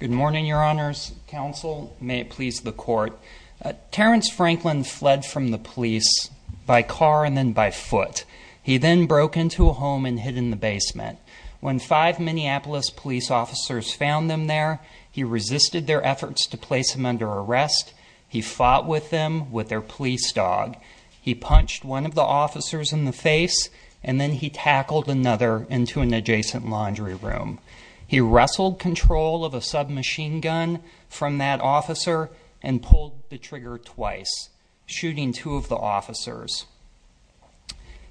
Good morning, Your Honors. Counsel, may it please the Court, Terrence Franklin fled from the police by car and then by foot. He then broke into a home and hid in the basement. When five Minneapolis police officers found him there, he resisted their efforts to place him under arrest. He fought with them with their police dog. He punched one of the officers in the face and then he tackled another into an adjacent laundry room. He wrestled control of a submachine gun from that officer and pulled the trigger twice, shooting two of the officers.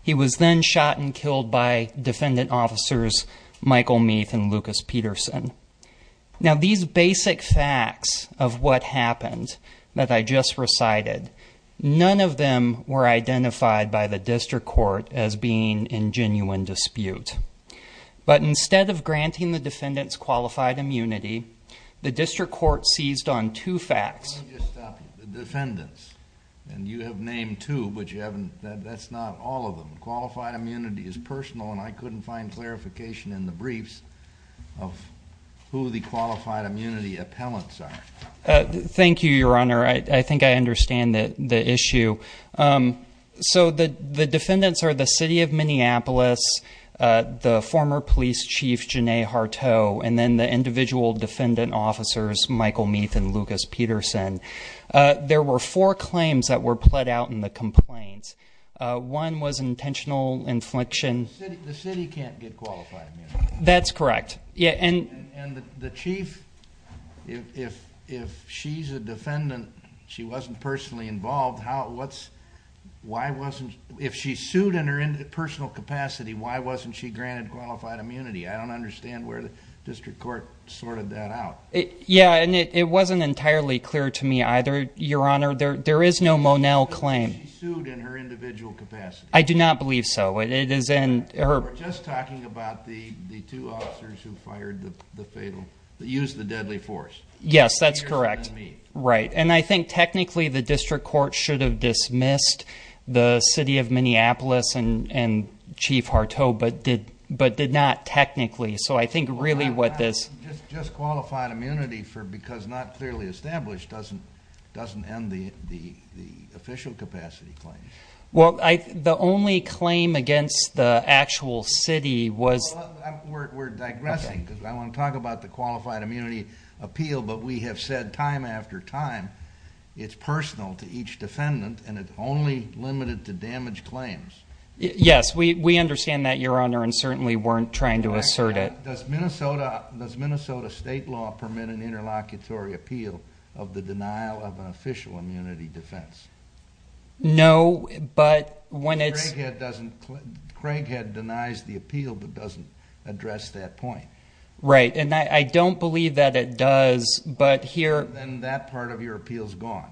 He was then shot and killed by defendant officers Michael Meath and Lucas Peterson. Now, these basic facts of what happened that I just recited, none of them were identified by the District Court as being in genuine dispute. But instead of granting the defendants qualified immunity, the District Court seized on two facts. Let me just stop you. The defendants, and you have named two, but you haven't, that's not all of them. The qualified immunity is personal and I couldn't find clarification in the briefs of who the qualified immunity appellants are. Thank you, Your Honor. I think I understand the issue. So the defendants are the City of Minneapolis, the former police chief, Janae Harteau, and then the individual defendant officers, Michael Meath and Lucas Peterson. There were four claims that were pled out in the complaints. One was intentional infliction. The city can't get qualified immunity. That's correct. And the chief, if she's a defendant, she wasn't personally involved, why wasn't, if she sued in her personal capacity, why wasn't she granted qualified immunity? I don't understand where the District Court sorted that out. Yeah, and it wasn't entirely clear to me either, Your Honor. There is no Monell claim. She sued in her individual capacity. I do not believe so. We're just talking about the two officers who fired the fatal, who used the deadly force. Yes, that's correct. Meath. Right. And I think technically the District Court should have dismissed the City of Minneapolis and Chief Harteau, but did not technically. So I think really what this... Just qualified immunity for because not clearly established doesn't end the official capacity claim. Well, the only claim against the actual city was... We're digressing because I want to talk about the qualified immunity appeal, but we have said time after time, it's personal to each defendant and it's only limited to damage claims. Yes, we understand that, Your Honor, and certainly weren't trying to assert it. But does Minnesota state law permit an interlocutory appeal of the denial of an official immunity defense? No, but when it's... Craighead denies the appeal, but doesn't address that point. Right. And I don't believe that it does, but here... Then that part of your appeal is gone.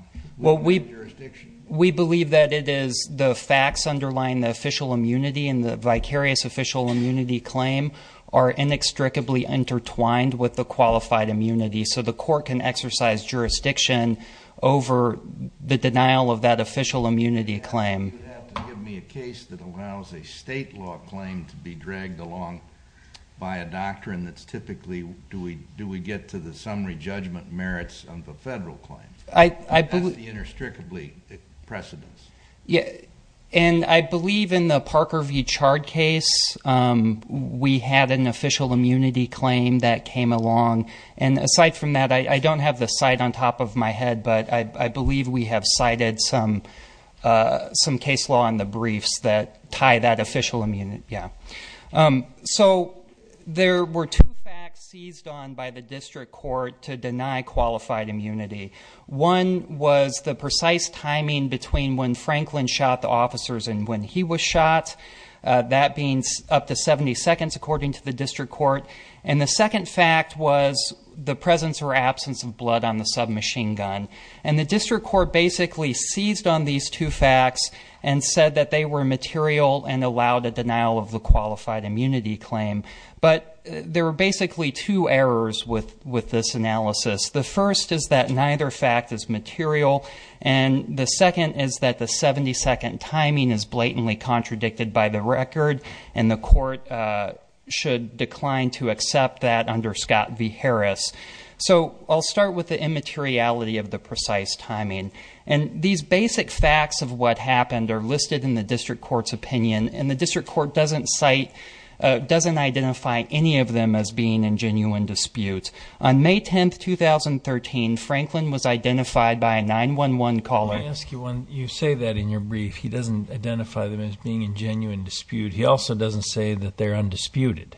We believe that it is the facts underlying the official immunity and the vicarious official immunity claim are inextricably intertwined with the qualified immunity. So the court can exercise jurisdiction over the denial of that official immunity claim. You have to give me a case that allows a state law claim to be dragged along by a doctrine that's typically, do we get to the summary judgment merits of a federal claim? I believe... That's the inextricably precedence. Yeah. And I believe in the Parker v. Chard case, we had an official immunity claim that came along. And aside from that, I don't have the site on top of my head, but I believe we have cited some case law in the briefs that tie that official immunity. Yeah. So there were two facts seized on by the district court to deny qualified immunity. One was the precise timing between when Franklin shot the officers and when he was shot. That being up to 70 seconds, according to the district court. And the second fact was the presence or absence of blood on the submachine gun. And the district court basically seized on these two facts and said that they were material and allowed a denial of the qualified immunity claim. But there were basically two errors with this analysis. The first is that neither fact is material. And the second is that the 70 second timing is blatantly contradicted by the record. And the court should decline to accept that under Scott v. Harris. So I'll start with the immateriality of the precise timing. And these basic facts of what happened are listed in the district court's opinion. And the district court doesn't cite... Doesn't identify any of them as being in genuine dispute. On May 10th, 2013, Franklin was identified by a 911 caller. Let me ask you one... You say that in your brief. He doesn't identify them as being in genuine dispute. He also doesn't say that they're undisputed.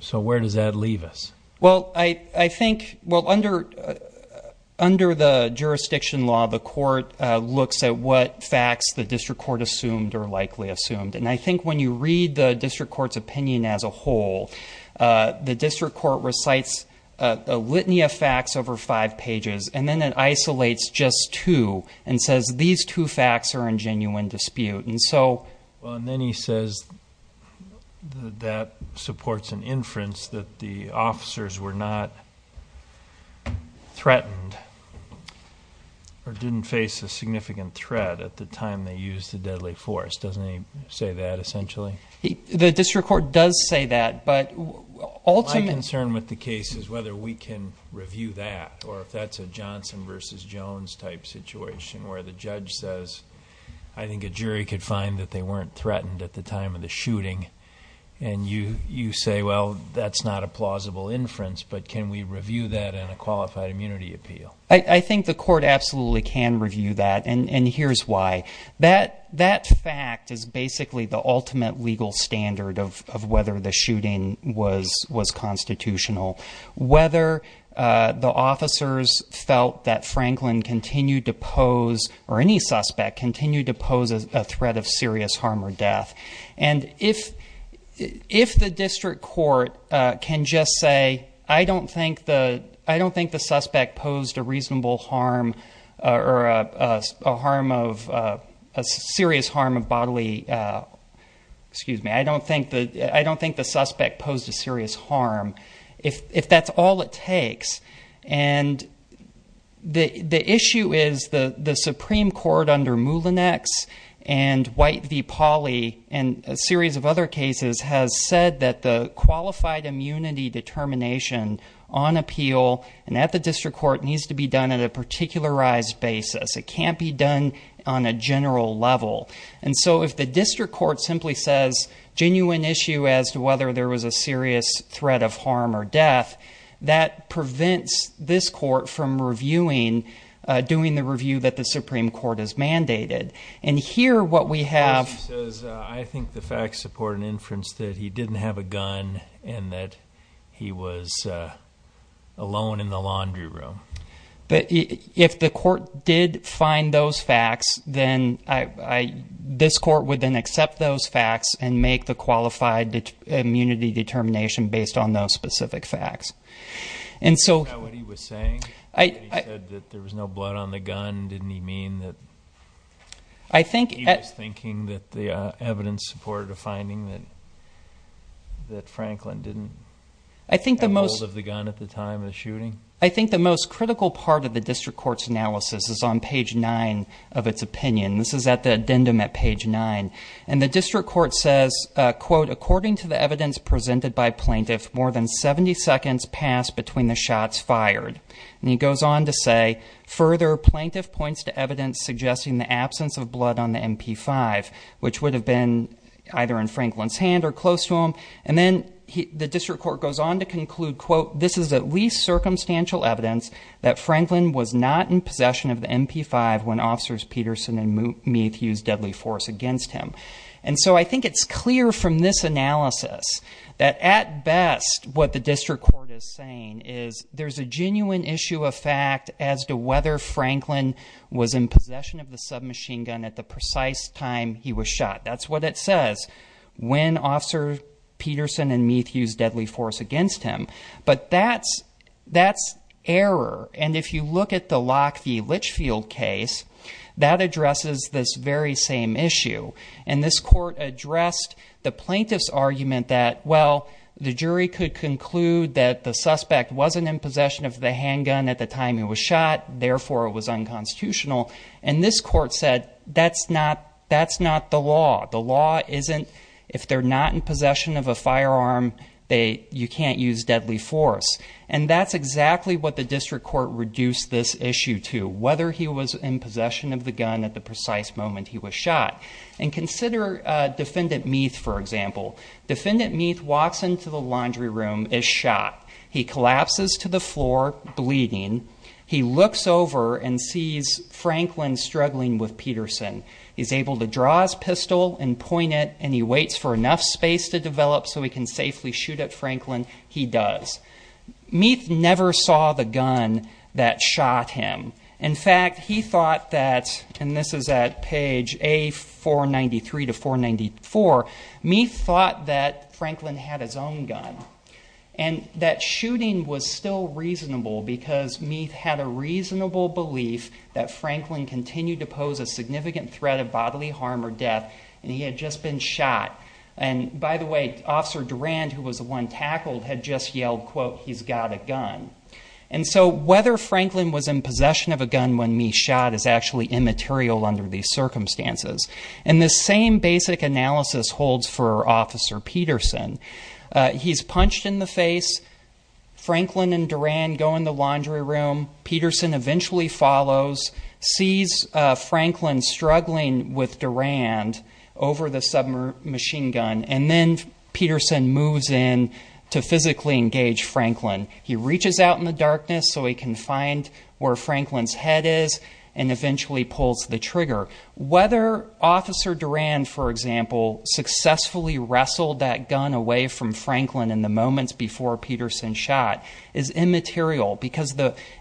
So where does that leave us? Well, I think... Well, under the jurisdiction law, the court looks at what facts the district court assumed or likely assumed. And I think when you read the district court's opinion as a whole, the district court recites a litany of facts over five pages. And then it isolates just two and says these two facts are in genuine dispute. And so... And then he says that supports an inference that the officers were not threatened or didn't face a significant threat at the time they used the deadly force. Doesn't he say that essentially? The district court does say that, but ultimately... My concern with the case is whether we can review that or if that's a Johnson versus Jones type situation where the judge says, I think a jury could find that they weren't threatened at the time of the shooting. And you say, well, that's not a plausible inference, but can we review that in a qualified immunity appeal? I think the court absolutely can review that. And here's why. That fact is basically the ultimate legal standard of whether the shooting was constitutional. Whether the officers felt that Franklin continued to pose, or any suspect continued to pose a threat of serious harm or death. And if the district court can just say, I don't think the suspect posed a reasonable harm or a serious harm of bodily... Excuse me. I don't think the suspect posed a serious harm, if that's all it takes. And the issue is the Supreme Court under Moulinex and White v. Pauly and a series of other cases has said that the qualified immunity determination on appeal and at the district court needs to be done at a particularized basis. It can't be done on a general level. And so if the district court simply says, genuine issue as to whether there was a serious threat of harm or death, that prevents this court from reviewing, doing the review that the Supreme Court has mandated. And here what we have... I think the facts support an inference that he didn't have a gun and that he was alone in the laundry room. If the court did find those facts, then this court would then accept those facts and make the qualified immunity determination based on those specific facts. And so... Is that what he was saying? He said that there was no blood on the gun, didn't he mean that... I think... He was thinking that the evidence supported a finding that Franklin didn't have hold of the gun at the time of the shooting? I think the most critical part of the district court's analysis is on page 9 of its opinion. This is at the addendum at page 9. And the district court says, quote, according to the evidence presented by plaintiff, more than 70 seconds passed between the shots fired. And he goes on to say, further, plaintiff points to evidence suggesting the absence of blood on the MP5, which would have been either in Franklin's hand or close to him. And then the district court goes on to conclude, quote, this is at least circumstantial evidence that Franklin was not in possession of the MP5 when officers Peterson and Meath used deadly force against him. And so I think it's clear from this analysis that at best what the district court is saying is there's a genuine issue of fact as to whether Franklin was in possession of the submachine gun at the precise time he was shot. That's what it says, when officers Peterson and Meath used deadly force against him. But that's error. And if you look at the Lock v. Litchfield case, that addresses this very same issue. And this court addressed the plaintiff's argument that, well, the jury could conclude that the suspect wasn't in possession of the handgun at the time he was shot, therefore it was unconstitutional. And this court said, that's not the law. The law isn't, if they're not in possession of a firearm, you can't use deadly force. And that's exactly what the district court reduced this issue to, whether he was in possession of the gun at the precise moment he was shot. And consider defendant Meath, for example. Defendant Meath walks into the laundry room, is shot. He collapses to the floor, bleeding. He looks over and sees Franklin struggling with Peterson. He's able to draw his pistol and point it, and he waits for enough space to develop so he can safely shoot at Franklin. He does. Meath never saw the gun that shot him. In fact, he thought that, and this is at page A493 to 494, Meath thought that Franklin had his own gun. And that shooting was still reasonable because Meath had a reasonable belief that Franklin continued to pose a significant threat of bodily harm or death, and he had just been shot. And, by the way, Officer Durand, who was the one tackled, had just yelled, quote, he's got a gun. And so whether Franklin was in possession of a gun when Meath shot is actually immaterial under these circumstances. And the same basic analysis holds for Officer Peterson. He's punched in the face. Franklin and Durand go in the laundry room. Peterson eventually follows, sees Franklin struggling with Durand over the submachine gun, and then Peterson moves in to physically engage Franklin. He reaches out in the darkness so he can find where Franklin's head is, and eventually pulls the trigger. Whether Officer Durand, for example, successfully wrestled that gun away from Franklin in the moments before Peterson shot is immaterial because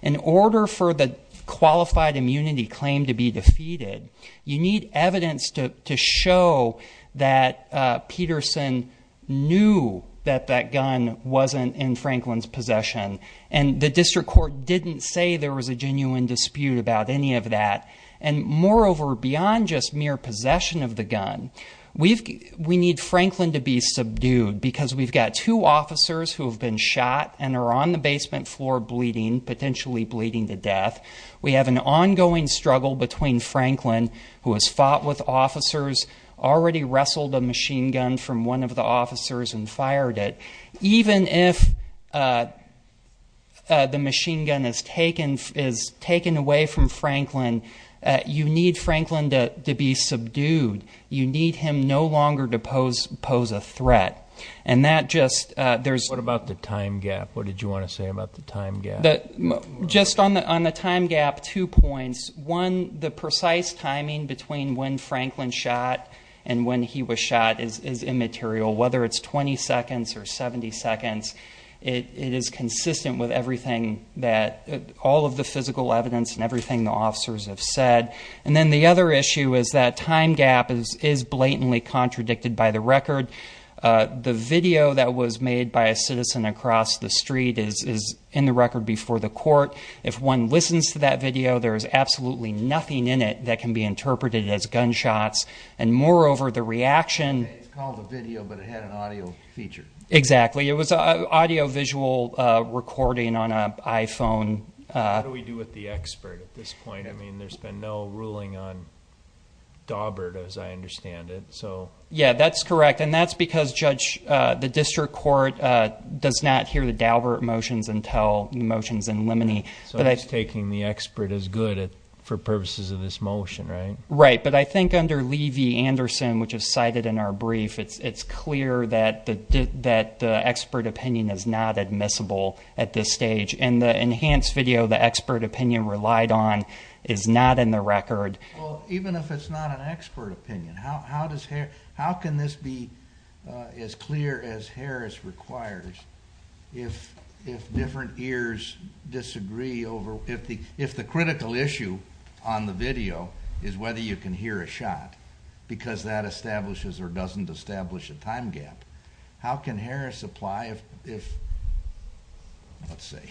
in order for the qualified immunity claim to be defeated, you need evidence to show that Peterson knew that that gun wasn't in Franklin's possession, and the district court didn't say there was a genuine dispute about any of that. And moreover, beyond just mere possession of the gun, we need Franklin to be subdued because we've got two officers who have been shot and are on the basement floor bleeding, potentially bleeding to death. We have an ongoing struggle between Franklin, who has fought with officers, already wrestled a machine gun from one of the officers and fired it. Even if the machine gun is taken away from Franklin, you need Franklin to be subdued. You need him no longer to pose a threat. And that just, there's... What about the time gap? What did you want to say about the time gap? Just on the time gap, two points. One, the precise timing between when Franklin shot and when he was shot is immaterial. Whether it's 20 seconds or 70 seconds, it is consistent with everything that... All of the physical evidence and everything the officers have said. And then the other issue is that time gap is blatantly contradicted by the record. The video that was made by a citizen across the street is in the record before the court. If one listens to that video, there is absolutely nothing in it that can be interpreted as gunshots. And moreover, the reaction... It's called a video, but it had an audio feature. Exactly. It was an audio-visual recording on an iPhone. What do we do with the expert at this point? I mean, there's been no ruling on Daubert, as I understand it. So... Yeah, that's correct. And that's because, Judge, the district court does not hear the Daubert motions until the motions in Lemony. So it's taking the expert as good for purposes of this motion, right? Right. But I think under Levy-Anderson, which is cited in our brief, it's clear that the expert opinion is not admissible at this stage. And the enhanced video, the expert opinion relied on, is not in the record. Even if it's not an expert opinion, how can this be as clear as Harris requires if different ears disagree over... If the critical issue on the video is whether you can hear a shot, because that establishes or doesn't establish a time gap, how can Harris apply if, let's say,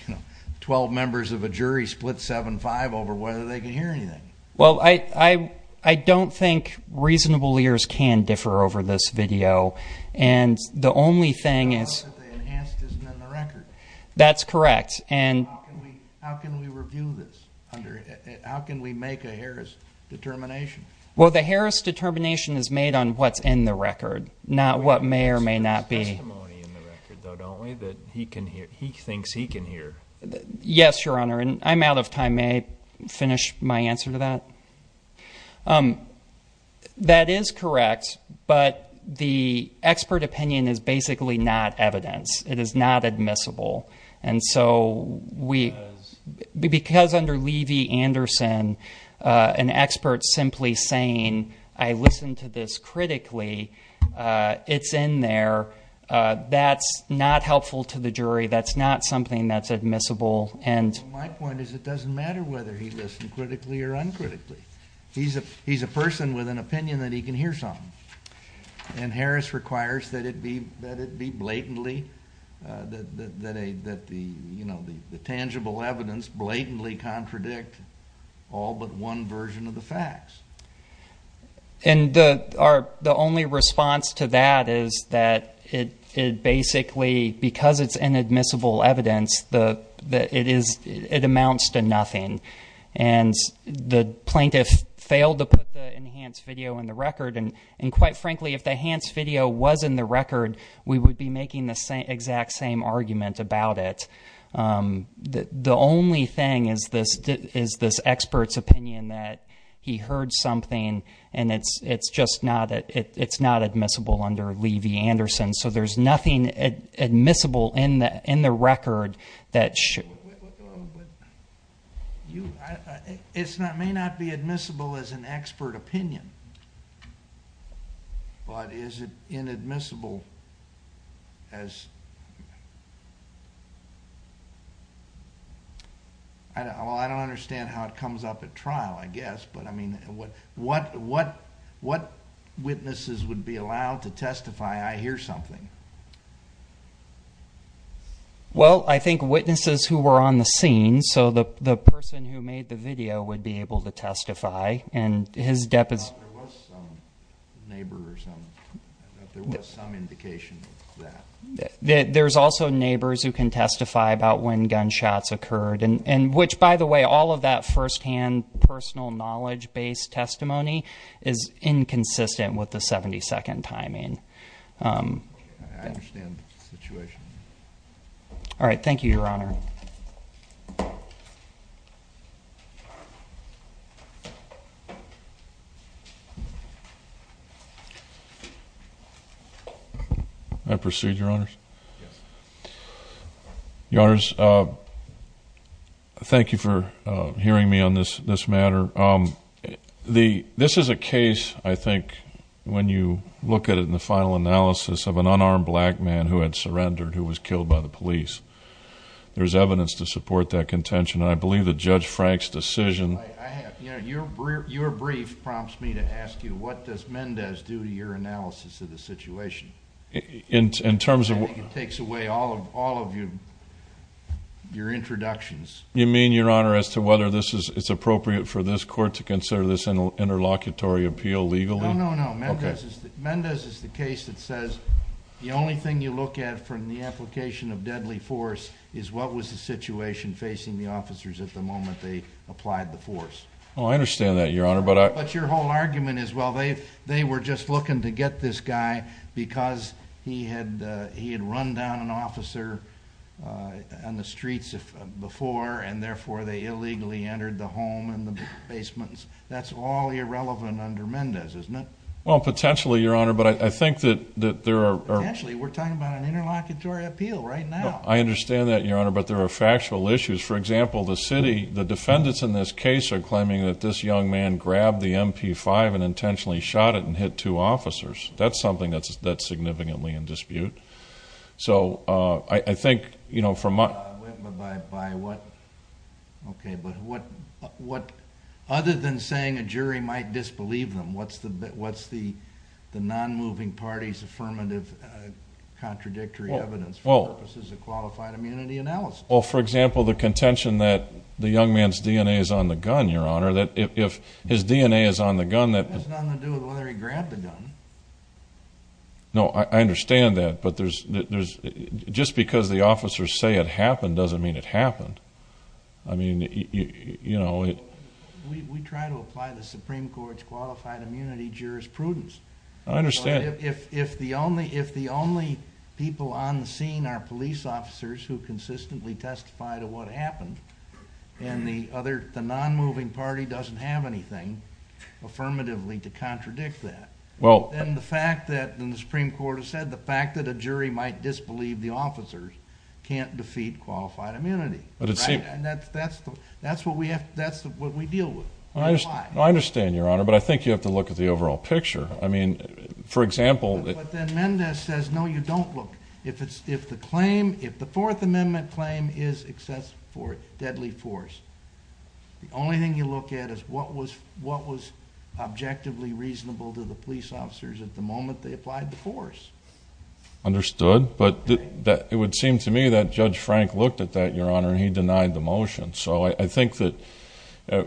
12 members of a jury split 7-5 over whether they can hear anything? Well, I don't think reasonable ears can differ over this video. And the only thing is... The fact that they enhanced isn't in the record. That's correct. And... How can we review this? How can we make a Harris determination? Well, the Harris determination is made on what's in the record, not what may or may not be. There's testimony in the record, though, don't we, that he thinks he can hear? Yes, Your Honor. I'm out of time. May I finish my answer to that? That is correct, but the expert opinion is basically not evidence. It is not admissible. And so we... Because under Levy-Anderson, an expert simply saying, I listened to this critically, it's in there. That's not helpful to the jury. That's not something that's admissible. And... My point is it doesn't matter whether he listened critically or uncritically. He's a person with an opinion that he can hear something. And Harris requires that it be blatantly, that the tangible evidence blatantly contradict all but one version of the facts. And the only response to that is that it basically, because it's inadmissible evidence, it amounts to nothing. And the plaintiff failed to put the enhanced video in the record, and quite frankly, if the enhanced video was in the record, we would be making the exact same argument about it. The only thing is this expert's opinion that he heard something, and it's just not admissible under Levy-Anderson. So there's nothing admissible in the record that should....... It may not be admissible as an expert opinion, but is it inadmissible as... I don't understand how it comes up at trial I guess, what witnesses would be allowed to testify I hear something? Well, I think witnesses who were on the scene, so the person who made the video would be able to testify, and his depth is... There was some neighbor or some indication of that. There's also neighbors who can testify about when gunshots occurred, and which by the way all of that first-hand personal knowledge-based testimony is inconsistent with the 72nd timing. I understand the situation. All right, thank you, Your Honor. May I proceed, Your Honors? Yes. Your Honors, thank you for hearing me on this matter. This is a case, I think, when you look at it in the final analysis, of an unarmed black man who had surrendered, who was killed by the police. There's evidence to support that contention, and I believe that Judge Frank's decision... Your brief prompts me to ask you, what does Mendez do to your analysis of the situation? In terms of... I think it takes away all of your introductions. You mean, Your Honor, as to whether it's appropriate for this court to consider this interlocutory appeal legally? No, no, no. Mendez is the case that says the only thing you look at from the application of deadly force is what was the situation facing the officers at the moment they applied the force. Oh, I understand that, Your Honor, but I... But your whole argument is, well, they were just looking to get this guy because he had run down an officer on the streets before, and therefore, they illegally entered the home and the basements. That's all irrelevant under Mendez, isn't it? Well, potentially, Your Honor, but I think that there are... Potentially. We're talking about an interlocutory appeal right now. I understand that, Your Honor, but there are factual issues. For example, the city... the defendants in this case are claiming that this young man grabbed the MP5 and intentionally shot it and hit two officers. That's something that's significantly in dispute. So, I think, you know, from my... By what... okay, but what... other than saying a jury might disbelieve them, what's the non-moving party's affirmative contradictory evidence for purposes of qualified immunity analysis? Well, for example, the contention that the young man's DNA is on the gun, Your Honor, that if his DNA is on the gun... That has nothing to do with whether he grabbed the gun. No, I understand that, but there's... just because the officers say it happened doesn't mean it happened. I mean, you know... We try to apply the Supreme Court's qualified immunity jurisprudence. I understand. If the only people on the scene are police officers who consistently testify to what Well... And the fact that... and the Supreme Court has said the fact that a jury might disbelieve the officers can't defeat qualified immunity. But it seems... Right? And that's what we have... that's what we deal with. I understand, Your Honor, but I think you have to look at the overall picture. I mean, for example... But then Mendez says, no, you don't look. If the claim... if the Fourth Amendment claim is excessive for deadly force, the only thing you look at is what was... what was objectively reasonable to the police officers at the moment they applied the force. Understood, but it would seem to me that Judge Frank looked at that, Your Honor, and he denied the motion. So, I think that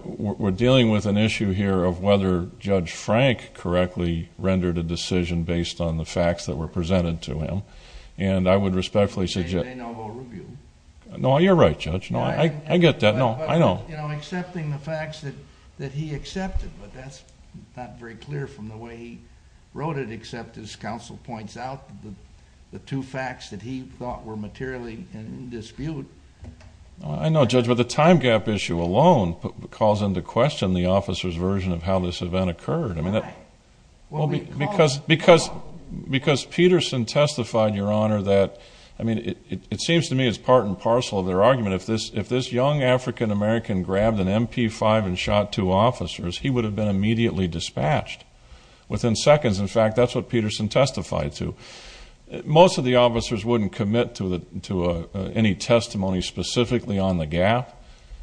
we're dealing with an issue here of whether Judge Frank correctly rendered a decision based on the facts that were presented to him. And I would respectfully suggest... Maybe they know more review. No, you're right, Judge. No, I get that. No, I know. But, you know, accepting the facts that he accepted, but that's not very clear from the way he wrote it, except as counsel points out, the two facts that he thought were materially in dispute... I know, Judge, but the time gap issue alone calls into question the officer's version of how this event occurred. Why? Because Peterson testified, Your Honor, that... I mean, it seems to me it's part and parcel of the fact that if Peterson grabbed an MP5 and shot two officers, he would have been immediately dispatched. Within seconds, in fact, that's what Peterson testified to. Most of the officers wouldn't commit to any testimony specifically on the gap,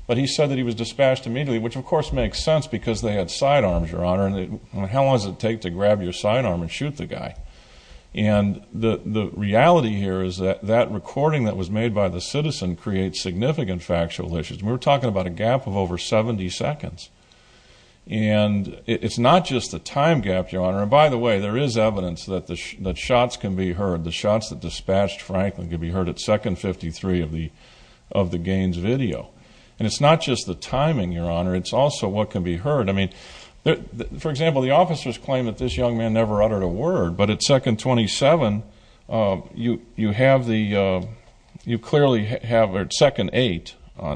but he said that he was dispatched immediately, which, of course, makes sense because they had side arms, Your Honor, and how long does it take to grab your side arm and shoot the guy? And the reality here is that that recording that was made by the citizen creates significant factual issues. We're talking about a gap of over 70 seconds. And it's not just the time gap, Your Honor. And, by the way, there is evidence that shots can be heard, the shots that dispatched Franklin can be heard at second 53 of the Gaines video. And it's not just the timing, Your Honor, it's also what can be heard. I mean, for example, the officers claim that this young man never uttered a word, but at second 8 in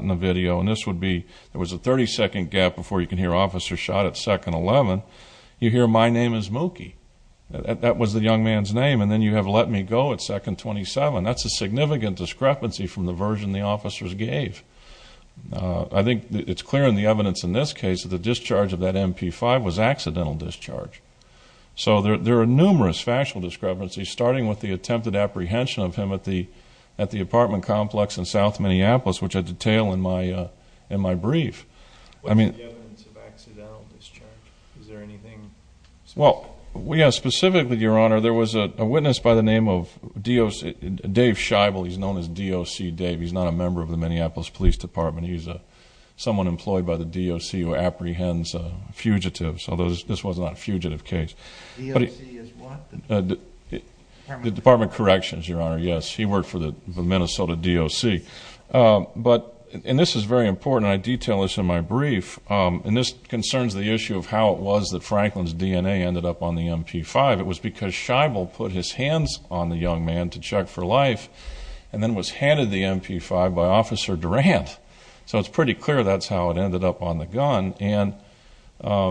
the video, and this would be, there was a 30-second gap before you can hear officers shot at second 11, you hear, my name is Mookie. That was the young man's name, and then you have let me go at second 27. That's a significant discrepancy from the version the officers gave. I think it's clear in the evidence in this case that the discharge of that MP5 was accidental discharge. So there are numerous factual discrepancies, starting with the attempted apprehension of South Minneapolis, which I detail in my brief. I mean... What is the evidence of accidental discharge? Is there anything specific? Well, yes, specifically, Your Honor, there was a witness by the name of Dave Scheibel. He's known as DOC Dave. He's not a member of the Minneapolis Police Department. He's someone employed by the DOC who apprehends fugitives, although this was not a fugitive case. DOC is what? The Department of Corrections, Your Honor, yes. He worked for the Minnesota DOC. And this is very important, and I detail this in my brief, and this concerns the issue of how it was that Franklin's DNA ended up on the MP5. It was because Scheibel put his hands on the young man to check for life and then was handed the MP5 by Officer Durant. So it's pretty clear that's how it ended up on the gun, and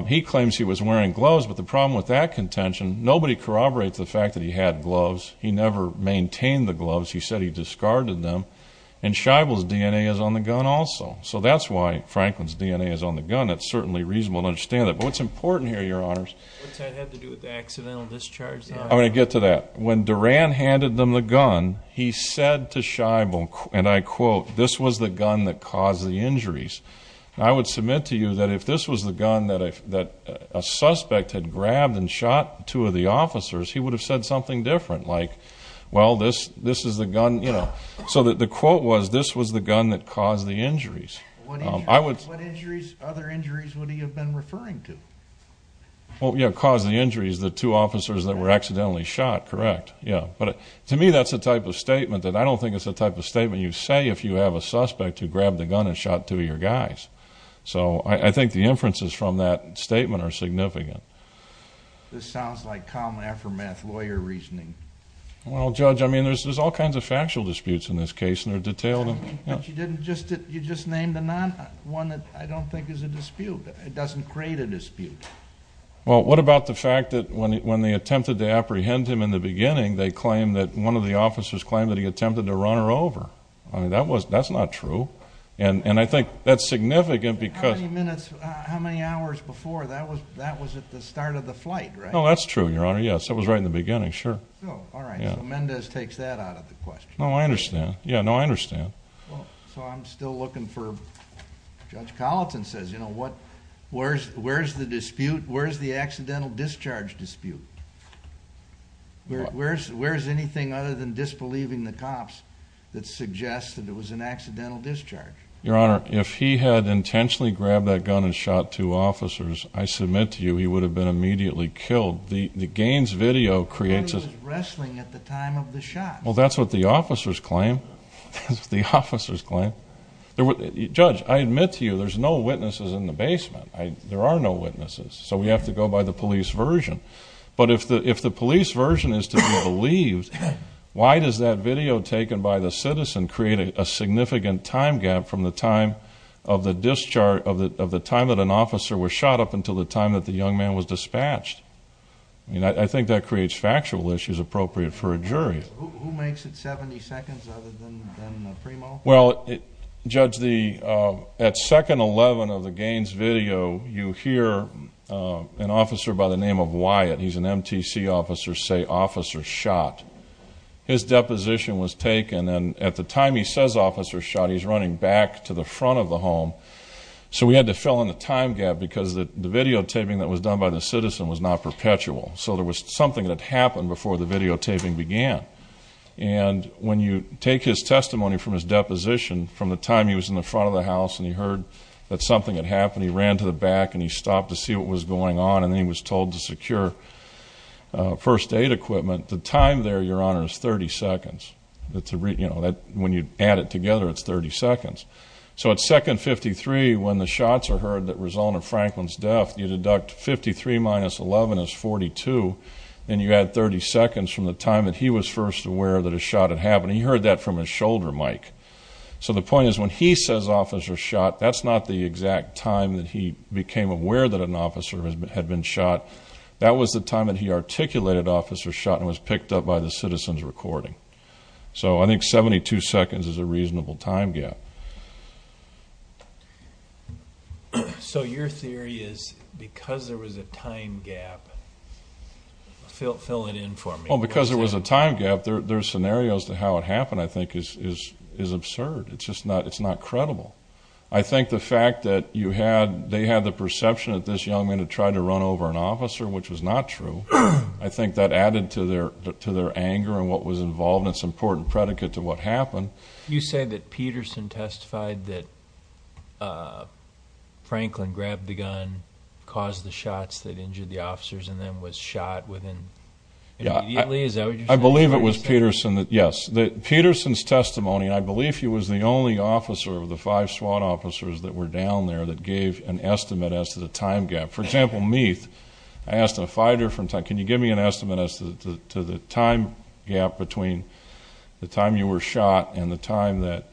he claims he was wearing gloves, but the problem with that contention, nobody corroborates the fact that he had gloves. He never maintained the gloves. He said he discarded them, and Scheibel's DNA is on the gun also. So that's why Franklin's DNA is on the gun. That's certainly reasonable to understand that. But what's important here, Your Honors... What does that have to do with the accidental discharge? I'm going to get to that. When Durant handed them the gun, he said to Scheibel, and I quote, this was the gun that caused the injuries. I would submit to you that if this was the gun that a suspect had grabbed and shot two of the officers, he would have said something different, like, well, this is the gun, you know. So the quote was, this was the gun that caused the injuries. What injuries? Other injuries would he have been referring to? Well, yeah, caused the injuries, the two officers that were accidentally shot, correct. Yeah. But to me, that's the type of statement that I don't think is the type of statement you say if you have a suspect who grabbed a gun and shot two of your guys. So I think the inferences from that statement are significant. This sounds like common aftermath lawyer reasoning. Well, Judge, I mean, there's all kinds of factual disputes in this case, and they're detailed. But you just named one that I don't think is a dispute. It doesn't create a dispute. Well, what about the fact that when they attempted to apprehend him in the beginning, they claimed that one of the officers claimed that he attempted to run her over. That's not true. And I think that's significant because... How many hours before? That was at the start of the flight, right? No, that's true, Your Honor, yes. That was right in the beginning, sure. Oh, all right. So Mendez takes that out of the question. No, I understand. Yeah, no, I understand. Well, so I'm still looking for... Judge Colleton says, you know, where's the dispute? Where's the accidental discharge dispute? Where's anything other than disbelieving the cops that suggests that it was an accidental discharge? Your Honor, if he had intentionally grabbed that gun and shot two officers, I submit to you he would have been immediately killed. The Gaines video creates a... But he was wrestling at the time of the shot. Well, that's what the officers claim. That's what the officers claim. Judge, I admit to you there's no witnesses in the basement. There are no witnesses. So we have to go by the police version. But if the police version is to be believed, why does that video taken by the citizen create a significant time gap from the time of the discharge, of the time that an officer was shot up until the time that the young man was dispatched? I mean, I think that creates factual issues appropriate for a jury. Who makes it 70 seconds other than Primo? Well, Judge, at 2nd 11 of the Gaines video, you hear an officer by the name of Wyatt, he's an MTC officer, say officer shot. His deposition was taken and at the time he says officer shot, he's running back to the front of the home. So we had to fill in the time gap because the videotaping that was done by the citizen was not perpetual. So there was something that happened before the videotaping began. And when you take his testimony from his deposition from the time he was in the front of the house and he heard that something had happened, he ran to the back and he stopped to see what was going on and he was told to secure first aid equipment. The time there, Your Honor, is 30 seconds. When you add it together, it's 30 seconds. So at 2nd 53, when the shots are heard that result in Franklin's death, you deduct 53 minus 11 is 42, and you add 30 seconds from the time that he was first aware that a shot had happened. He heard that from his shoulder, Mike. So the point is when he says officer shot, that's not the exact time that he became aware that an officer had been shot. That was the time that he articulated officer shot and was picked up by the citizen's recording. So I think 72 seconds is a reasonable time gap. So your theory is because there was a time gap, fill it in for me. Well, because there was a time gap, their scenarios to how it happened I think is absurd. It's just not credible. I think the fact that they had the perception that this young man had tried to run over an officer, which was not true, I think that added to their anger and what was involved and it's an important predicate to what happened. You say that Peterson testified that Franklin grabbed the gun, caused the shots that injured the officers, and then was shot immediately? I believe it was Peterson, yes. Peterson's testimony, I believe he was the only officer of the five SWAT officers that were down there that gave an estimate as to the time gap. For example, Meath, I asked a fighter from time, can you give me an estimate as to the time gap between the time you were shot and the time that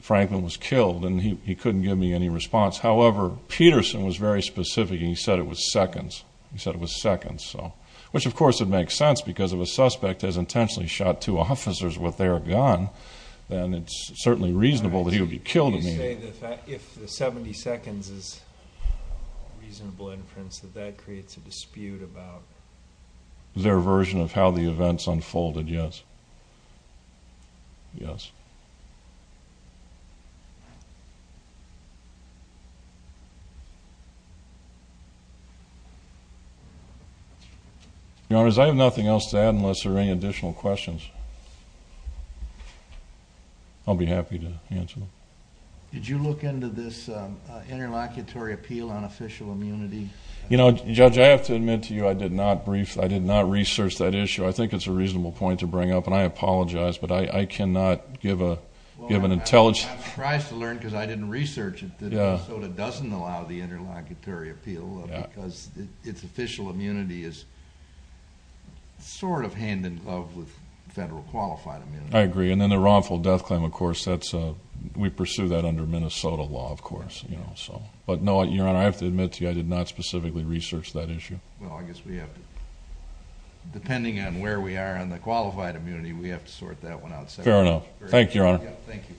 Franklin was killed, and he couldn't give me any response. However, Peterson was very specific. He said it was seconds. He said it was seconds, which of course it makes sense because if a suspect has intentionally shot two officers with their gun, then it's certainly reasonable that he would be killed immediately. You say that if the 70 seconds is reasonable inference, that that creates a dispute about? Their version of how the events unfolded, yes. Yes. Your Honors, I have nothing else to add unless there are any additional questions. I'll be happy to answer them. Did you look into this interlocutory appeal on official immunity? You know, Judge, I have to admit to you I did not research that issue. I think it's a reasonable point to bring up, and I apologize, but I cannot give an intelligent— I'm surprised to learn because I didn't research it that Minnesota doesn't allow the interlocutory appeal because its official immunity is sort of hand-in-glove with federal qualified immunity. I agree. And then the wrongful death claim, of course, we pursue that under Minnesota law, of course. But no, Your Honor, I have to admit to you I did not specifically research that issue. Well, I guess we have to—depending on where we are on the qualified immunity, we have to sort that one out separately. Fair enough. Thank you, Your Honor. Thank you.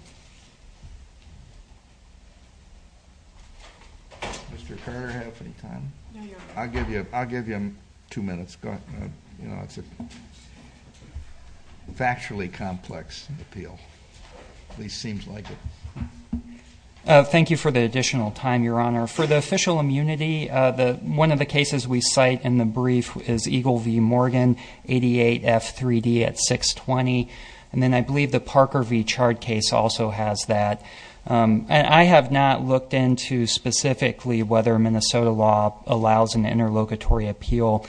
Mr. Carter, do you have any time? No, Your Honor. I'll give you two minutes. It's a factually complex appeal, at least seems like it. Thank you for the additional time, Your Honor. For the official immunity, one of the cases we cite in the brief is Eagle v. Morgan, 88F3D at 620. And then I believe the Parker v. Chard case also has that. And I have not looked into specifically whether Minnesota law allows an interlocutory appeal.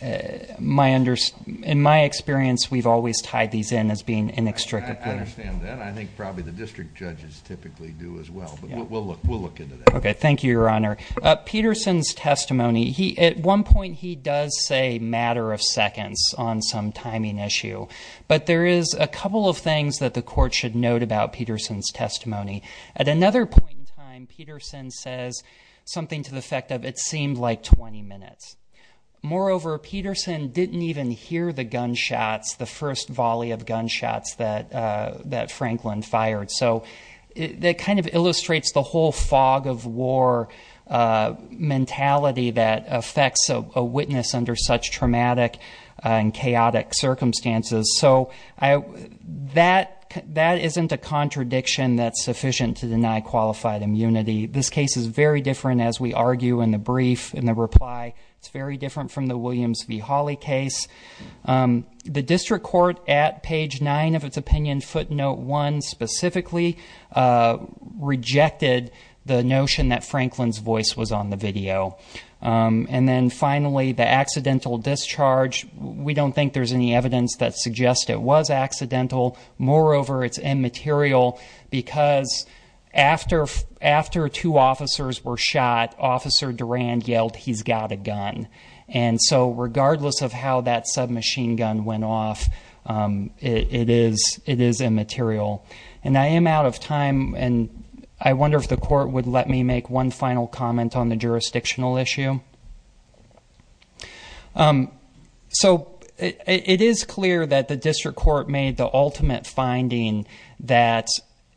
In my experience, we've always tied these in as being inextricably. I understand that. I think probably the district judges typically do as well. But we'll look into that. Okay. Thank you, Your Honor. Peterson's testimony, at one point he does say matter of seconds on some timing issue. But there is a couple of things that the court should note about Peterson's testimony. At another point in time, Peterson says something to the effect of it seemed like 20 minutes. Moreover, Peterson didn't even hear the gunshots, the first volley of gunshots that Franklin fired. So that kind of illustrates the whole fog of war mentality that affects a witness under such traumatic and chaotic circumstances. So that isn't a contradiction that's sufficient to deny qualified immunity. This case is very different, as we argue in the brief, in the reply. It's very different from the Williams v. Hawley case. The district court at page 9 of its opinion footnote 1 specifically rejected the notion that Franklin's voice was on the video. And then finally, the accidental discharge, we don't think there's any evidence that suggests it was accidental. Moreover, it's immaterial because after two officers were shot, Officer Durand yelled, he's got a gun. And so regardless of how that submachine gun went off, it is immaterial. And I am out of time, and I wonder if the court would let me make one final comment on the jurisdictional issue. So it is clear that the district court made the ultimate finding that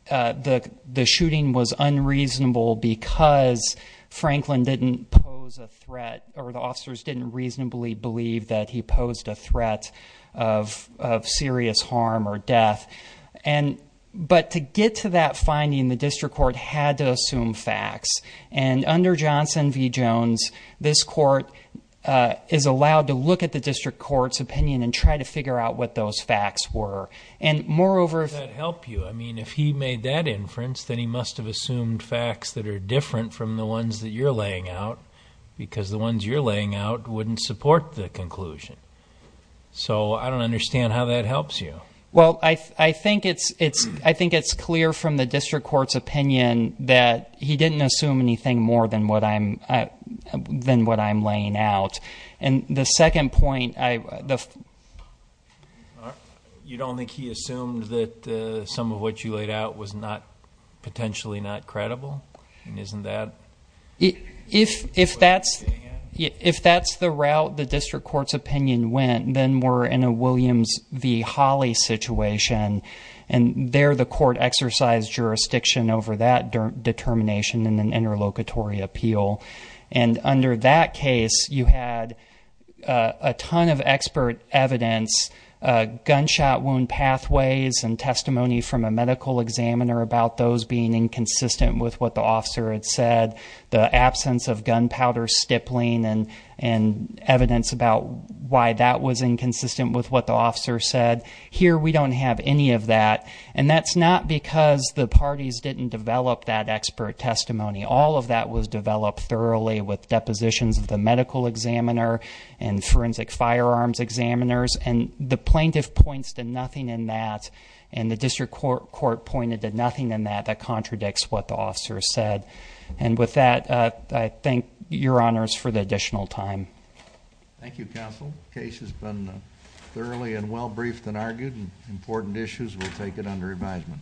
the shooting was unreasonable because Franklin didn't pose a threat, or the officers didn't reasonably believe that he posed a threat of serious harm or death. But to get to that finding, the district court had to assume facts. And under Johnson v. Jones, this court is allowed to look at the district court's opinion and try to figure out what those facts were. And moreover- How does that help you? I mean, if he made that inference, then he must have assumed facts that are different from the ones that you're laying out, because the ones you're laying out wouldn't support the conclusion. So I don't understand how that helps you. Well, I think it's clear from the district court's opinion that he didn't assume anything more than what I'm laying out. And the second point- You don't think he assumed that some of what you laid out was potentially not credible? And isn't that- If that's the route the district court's opinion went, then we're in a Williams v. Holley situation, and there the court exercised jurisdiction over that determination in an interlocutory appeal. And under that case, you had a ton of expert evidence, gunshot wound pathways, and testimony from a medical examiner about those being inconsistent with what the officer had said. The absence of gunpowder stippling and evidence about why that was inconsistent with what the officer said. Here, we don't have any of that. And that's not because the parties didn't develop that expert testimony. All of that was developed thoroughly with depositions of the medical examiner and forensic firearms examiners. And the plaintiff points to nothing in that, and the district court pointed to nothing in that that contradicts what the officer said. And with that, I thank your honors for the additional time. Thank you, counsel. The case has been thoroughly and well briefed and argued. Important issues will take it under advisement.